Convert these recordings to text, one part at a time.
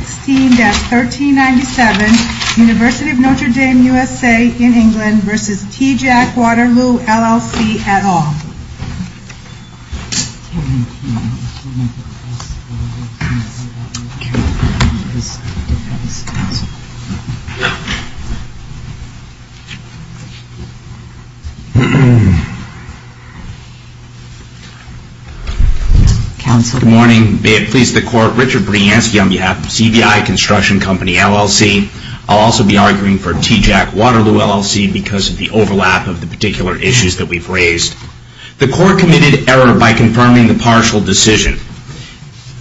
16-1397 University of Notre Dame, USA, in England v. TJAC Waterloo, LLC, et al. Good morning. May it please the Court, Richard Bransky on behalf of CBI Construction Company, LLC. I'll also be arguing for TJAC Waterloo, LLC because of the overlap of the particular issues that we've raised. The Court committed error by confirming the partial decision.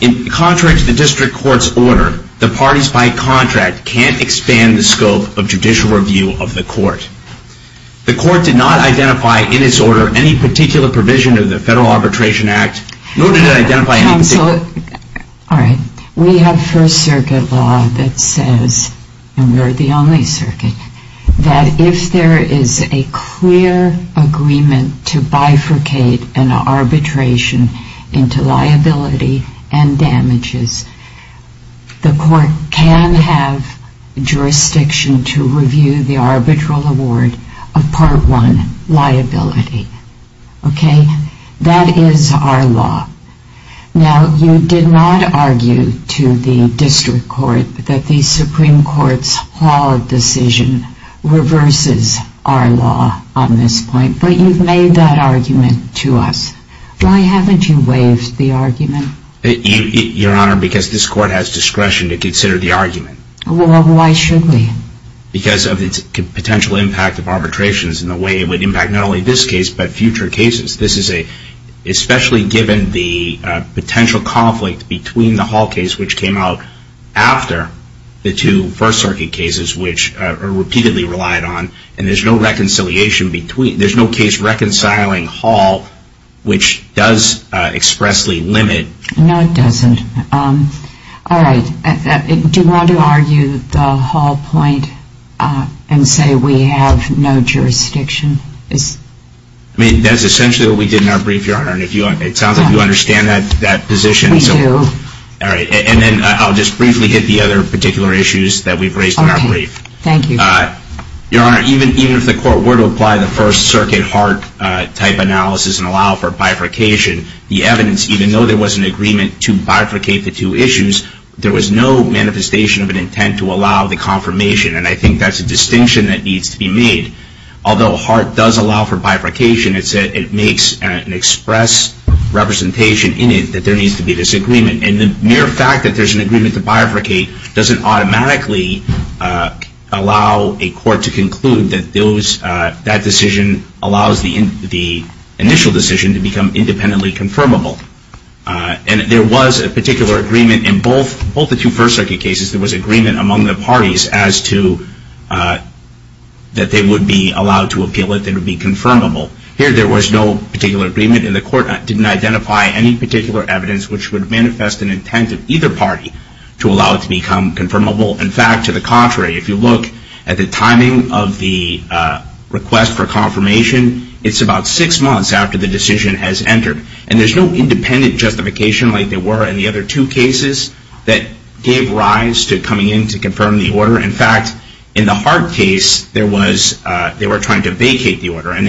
In contrary to the District Court's order, the parties by contract can't expand the scope of judicial review of the Court. The Court did not identify in its order any particular provision of the Federal Arbitration Act, nor did it identify any particular provision of the Federal Arbitration Act. If there is a clear agreement to bifurcate an arbitration into liability and damages, the Court can have jurisdiction to review the arbitral award of Part 1 liability. That is our law. Now, you did not argue to the District Court that the Supreme Court's Hall decision reverses our law on this point, but you've made that argument to us. Why haven't you waived the argument? Your Honor, because this Court has discretion to consider the argument. Well, why should we? Because of its potential impact of arbitrations and the way it would impact not only this case, but future cases. This is a, especially given the potential conflict between the Hall case, which came out after the two First Circuit cases, which are repeatedly relied on, and there's no reconciliation between, there's no case reconciling Hall, which does expressly limit. No, it doesn't. All right. Do you want to argue the Hall point and say we have no jurisdiction? I mean, that's essentially what we did in our brief, Your Honor, and it sounds like you understand that position. We do. All right. And then I'll just briefly hit the other particular issues that we've raised in our brief. Okay. Thank you. Your Honor, even if the Court were to apply the First Circuit Hart-type analysis and allow for bifurcation, the evidence, even though there was an agreement to bifurcate the two issues, there was no manifestation of an intent to allow the confirmation, and I think that's a distinction that needs to be made. Although Hart does allow for bifurcation, it makes an express representation in it that there needs to be this agreement, and the mere fact that there's an agreement to bifurcate doesn't automatically allow a court to conclude that that decision allows the initial decision to become independently confirmable. And there was a particular agreement in both the two First Circuit cases, there was agreement among the parties as to that they would be allowed to appeal it, that it would be confirmable. Here, there was no particular agreement, and the Court didn't identify any particular evidence which would manifest an intent of either party to allow it to become confirmable. In fact, to the contrary, if you look at the timing of the request for confirmation, it's about six months after the decision has entered. And there's no independent justification like there were in the other two cases that gave rise to coming in to confirm the order. In fact, in the Hart case, they were trying to vacate the order, and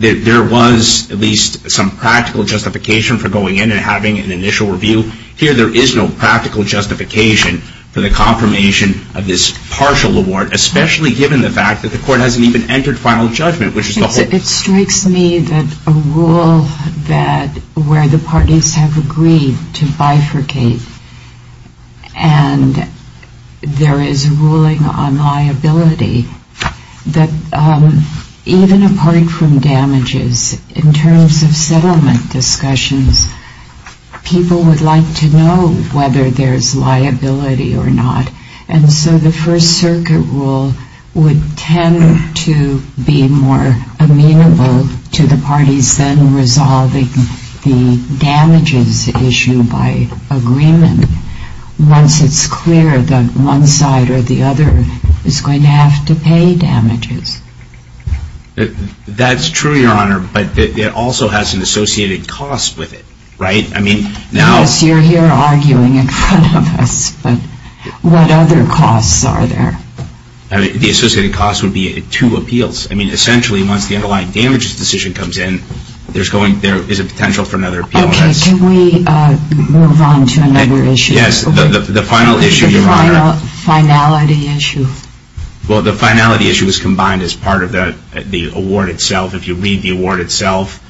there was at least some practical justification for going in and having an initial review. Here, there is no practical justification for the confirmation of this partial award, especially given the fact that the Court hasn't even entered final judgment. It strikes me that a rule where the parties have agreed to bifurcate and there is ruling on liability, that even apart from damages, in terms of settlement discussions, people would like to know whether there's liability or not. And so the First Circuit rule would tend to be more amenable to the parties then resolving the damages issue by agreement once it's clear that one side or the other is going to have to pay damages. That's true, Your Honor, but it also has an associated cost with it, right? Yes, you're here arguing in front of us, but what other costs are there? The associated costs would be two appeals. I mean, essentially, once the underlying damages decision comes in, there is a potential for another appeal. Okay, can we move on to another issue? Yes, the final issue, Your Honor. The finality issue. Well, the finality issue was combined as part of the award itself. If you read the award itself,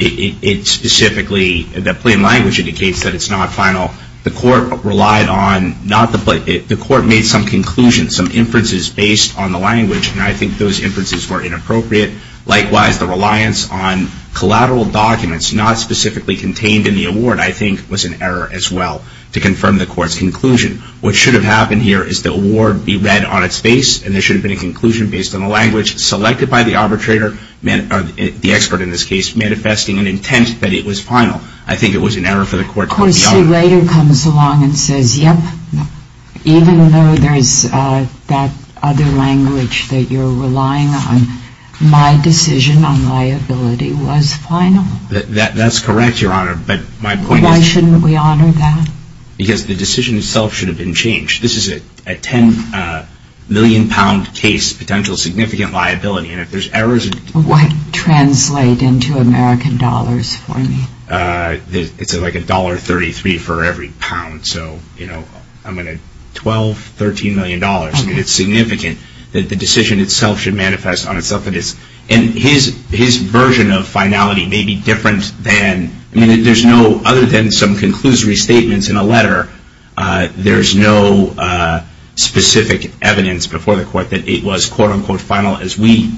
it specifically, the plain language indicates that it's not final. The Court relied on, not the plain, the Court made some conclusions, some inferences based on the language, and I think those inferences were inappropriate. Likewise, the reliance on collateral documents not specifically contained in the award, I think, was an error as well to confirm the Court's conclusion. What should have happened here is the award be read on its face, and there should have been a conclusion based on the language selected by the arbitrator, the expert in this case, manifesting an intent that it was final. I think it was an error for the Court to be honest. Of course, he later comes along and says, yep, even though there is that other language that you're relying on, my decision on liability was final. That's correct, Your Honor, but my point is... Why shouldn't we honor that? Because the decision itself should have been changed. This is a 10 million pound case, potential significant liability, and if there's errors... What translate into American dollars for me? It's like a $1.33 for every pound, so, you know, I'm going to, 12, 13 million dollars. I mean, it's significant that the decision itself should manifest on itself, and his version of finality may be different than... I mean, there's no, other than some conclusory statements in a letter, there's no specific evidence before the Court that it was quote-unquote final as we...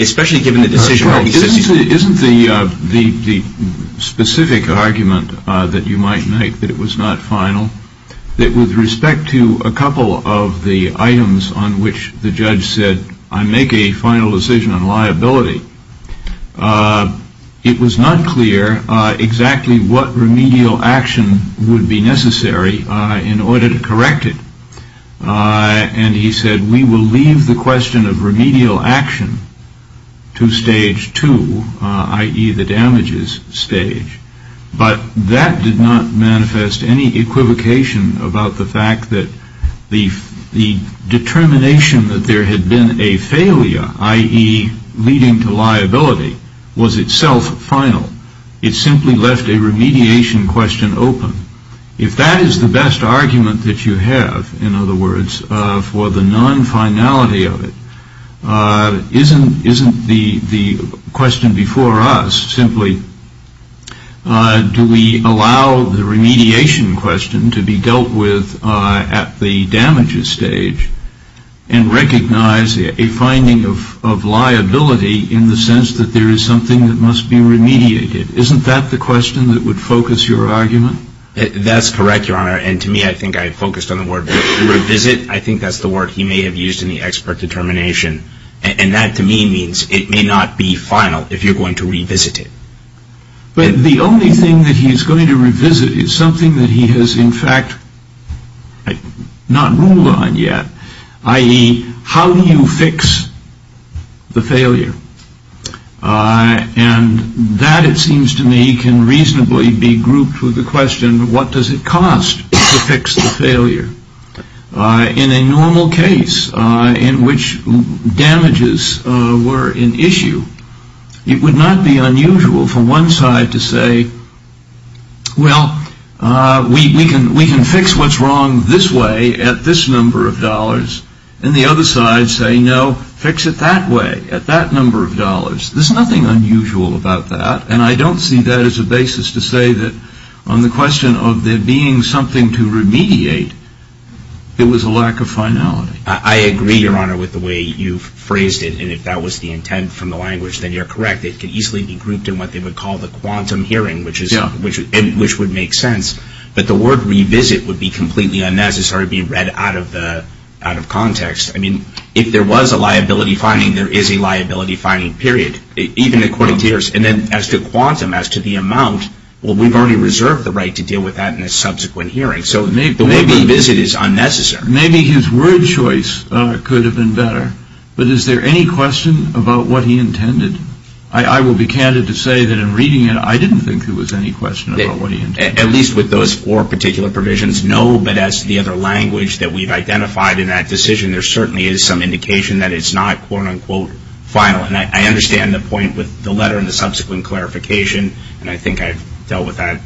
Especially given the decision... Isn't the specific argument that you might make that it was not final, that with respect to a couple of the items on which the judge said, I make a final decision on liability, it was not clear exactly what remedial action would be necessary in order to correct it. And he said, we will leave the question of remedial action to stage two, i.e. the damages stage. But that did not manifest any equivocation about the fact that the determination that there had been a failure, i.e. leading to liability, was itself final. It simply left a remediation question open. If that is the best argument that you have, in other words, for the non-finality of it, isn't the question before us simply, do we allow the remediation question to be dealt with at the damages stage, and recognize a finding of liability in the sense that there is something that must be remediated? Isn't that the question that would focus your argument? That's correct, Your Honor. And to me, I think I focused on the word revisit. I think that's the word he may have used in the expert determination. And that, to me, means it may not be final if you're going to revisit it. But the only thing that he's going to revisit is something that he has, in fact, not ruled on yet, i.e. how do you fix the failure? And that, it seems to me, can reasonably be grouped with the question, what does it cost to fix the failure? In a normal case in which damages were an issue, it would not be unusual for one side to say, well, we can fix what's wrong this way at this number of dollars, and the other side say, no, fix it that way. At that number of dollars, there's nothing unusual about that. And I don't see that as a basis to say that on the question of there being something to remediate, it was a lack of finality. I agree, Your Honor, with the way you've phrased it. And if that was the intent from the language, then you're correct. It could easily be grouped in what they would call the quantum hearing, which would make sense. But the word revisit would be completely unnecessary to be read out of context. I mean, if there was a liability finding, there is a liability finding, period, even according to yours. And then as to quantum, as to the amount, well, we've already reserved the right to deal with that in a subsequent hearing. So the word revisit is unnecessary. Maybe his word choice could have been better. But is there any question about what he intended? I will be candid to say that in reading it, I didn't think there was any question about what he intended. At least with those four particular provisions, no. But as to the other language that we've identified in that decision, there certainly is some indication that it's not quote-unquote final. And I understand the point with the letter and the subsequent clarification, and I think I've dealt with that.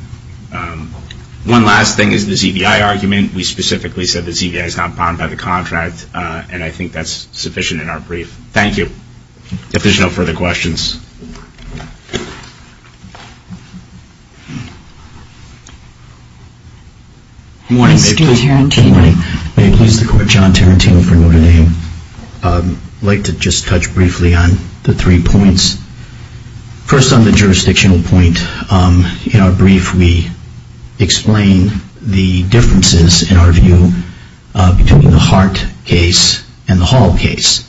One last thing is the ZVI argument. We specifically said the ZVI is not bound by the contract, and I think that's sufficient in our brief. Thank you. If there's no further questions. Good morning. May it please the Court. John Tarantino for Notre Dame. I'd like to just touch briefly on the three points. First on the jurisdictional point, in our brief we explain the differences in our view between the Hart case and the Hall case.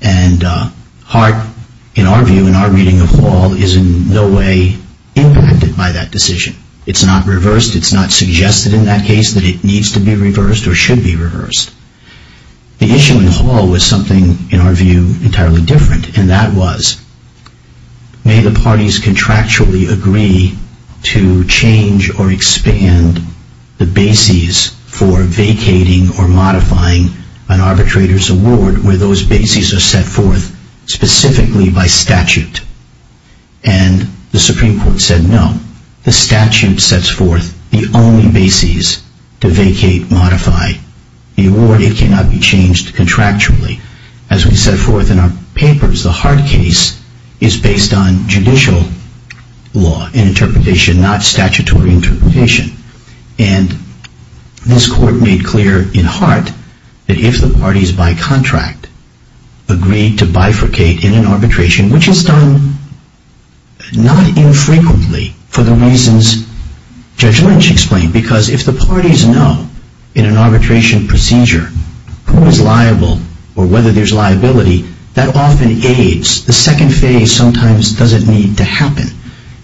And our reading of Hall is in no way impacted by that decision. It's not reversed. It's not suggested in that case that it needs to be reversed or should be reversed. The issue in Hall was something in our view entirely different, and that was, may the parties contractually agree to change or expand the bases for vacating or modifying an arbitrator's award where those bases are set forth specifically by statute. And the Supreme Court said no. The statute sets forth the only bases to vacate, modify the award. It cannot be changed contractually. As we set forth in our papers, the Hart case is based on judicial law and interpretation, not statutory interpretation. And this Court made clear in Hart that if the parties by contract agreed to bifurcate in an arbitration, which is done not infrequently for the reasons Judge Lynch explained, because if the parties know in an arbitration procedure who is liable or whether there's liability, that often aids the second phase sometimes doesn't need to happen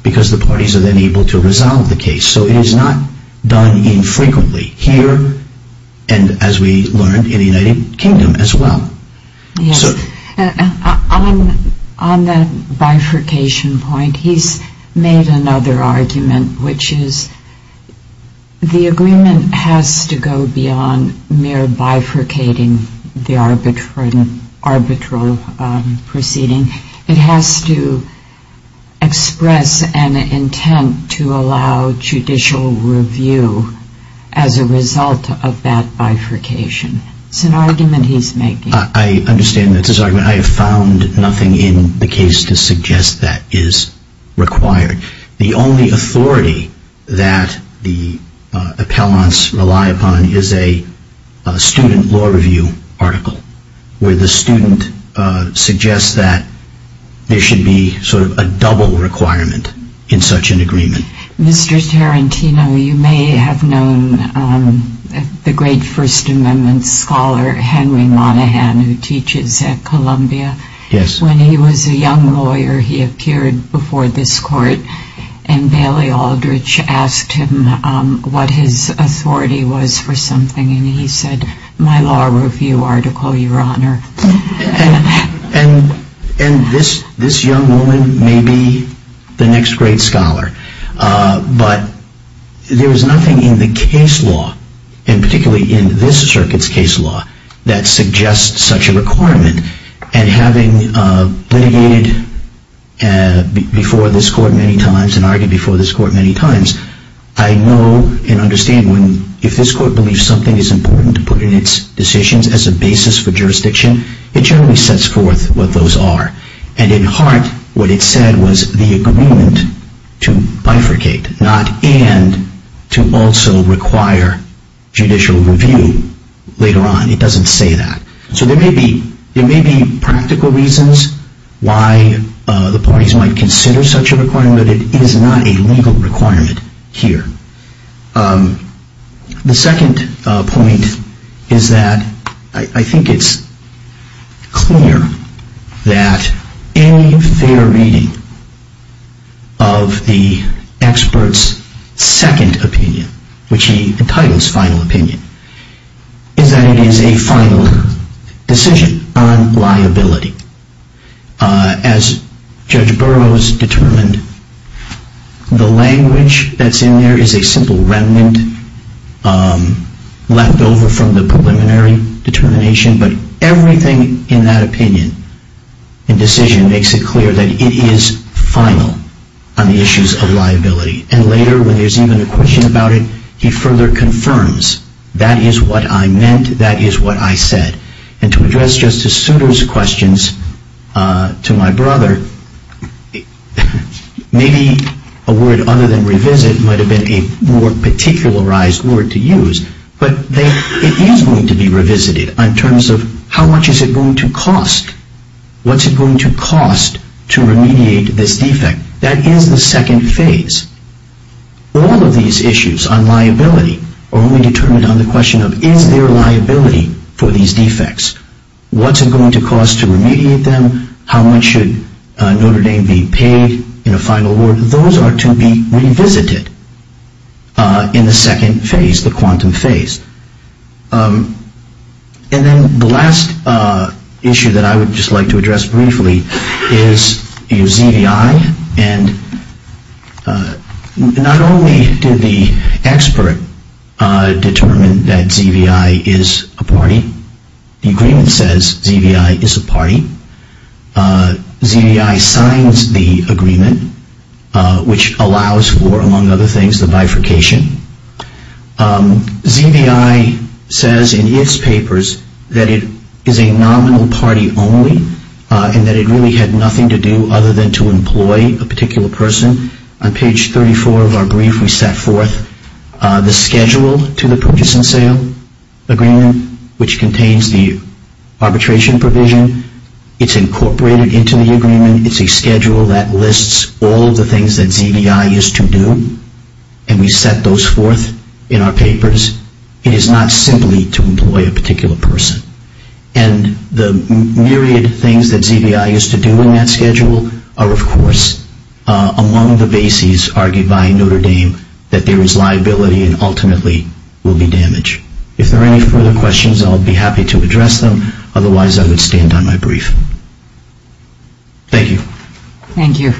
because the parties are then able to resolve the case. So it is not done infrequently here and, as we learned, in the United Kingdom as well. Yes. On that bifurcation point, he's made another argument, which is the agreement has to go beyond mere bifurcating the arbitral proceeding. It has to express an intent to allow judicial review as a result of that bifurcation. It's an argument he's making. I understand that's his argument. I have found nothing in the case to suggest that is required. The only authority that the appellants rely upon is a student law review article where the student suggests that there should be sort of a double requirement in such an agreement. Mr. Tarantino, you may have known the great First Amendment scholar, Henry Monaghan, who teaches at Columbia. Yes. When he was a young lawyer, he appeared before this court, and Bailey Aldrich asked him what his authority was for something, and he said, my law review article, Your Honor. And this young woman may be the next great scholar, but there is nothing in the case law, and particularly in this circuit's case law, that suggests such a requirement. And having litigated before this court many times and argued before this court many times, I know and understand if this court believes something is important to put in its decisions as a basis for jurisdiction, it generally sets forth what those are. And in heart, what it said was the agreement to bifurcate, not and to also require judicial review later on. It doesn't say that. So there may be practical reasons why the parties might consider such a requirement. But it is not a legal requirement here. The second point is that I think it's clear that any fair reading of the expert's second opinion, which he entitles final opinion, is that it is a final decision on liability. As Judge Burroughs determined, the language that's in there is a simple remnant left over from the preliminary determination, but everything in that opinion and decision makes it clear that it is final on the issues of liability. And later, when there's even a question about it, he further confirms, that is what I meant, that is what I said. And to address Justice Souter's questions to my brother, maybe a word other than revisit might have been a more particularized word to use, but it is going to be revisited in terms of how much is it going to cost? What's it going to cost to remediate this defect? That is the second phase. All of these issues on liability are only determined on the question of is there liability for these defects? What's it going to cost to remediate them? How much should Notre Dame be paid in a final award? Those are to be revisited in the second phase, the quantum phase. And then the last issue that I would just like to address briefly is ZVI. And not only did the expert determine that ZVI is a party. The agreement says ZVI is a party. ZVI signs the agreement, which allows for, among other things, the bifurcation. ZVI says in its papers that it is a nominal party only and that it really had nothing to do other than to employ a particular person. On page 34 of our brief, we set forth the schedule to the purchase and sale agreement, which contains the arbitration provision. It's incorporated into the agreement. It's a schedule that lists all of the things that ZVI is to do. And we set those forth in our papers. It is not simply to employ a particular person. And the myriad of things that ZVI is to do in that schedule are, of course, among the bases argued by Notre Dame that there is liability and ultimately will be damaged. If there are any further questions, I'll be happy to address them. Otherwise, I would stand on my brief. Thank you. Thank you.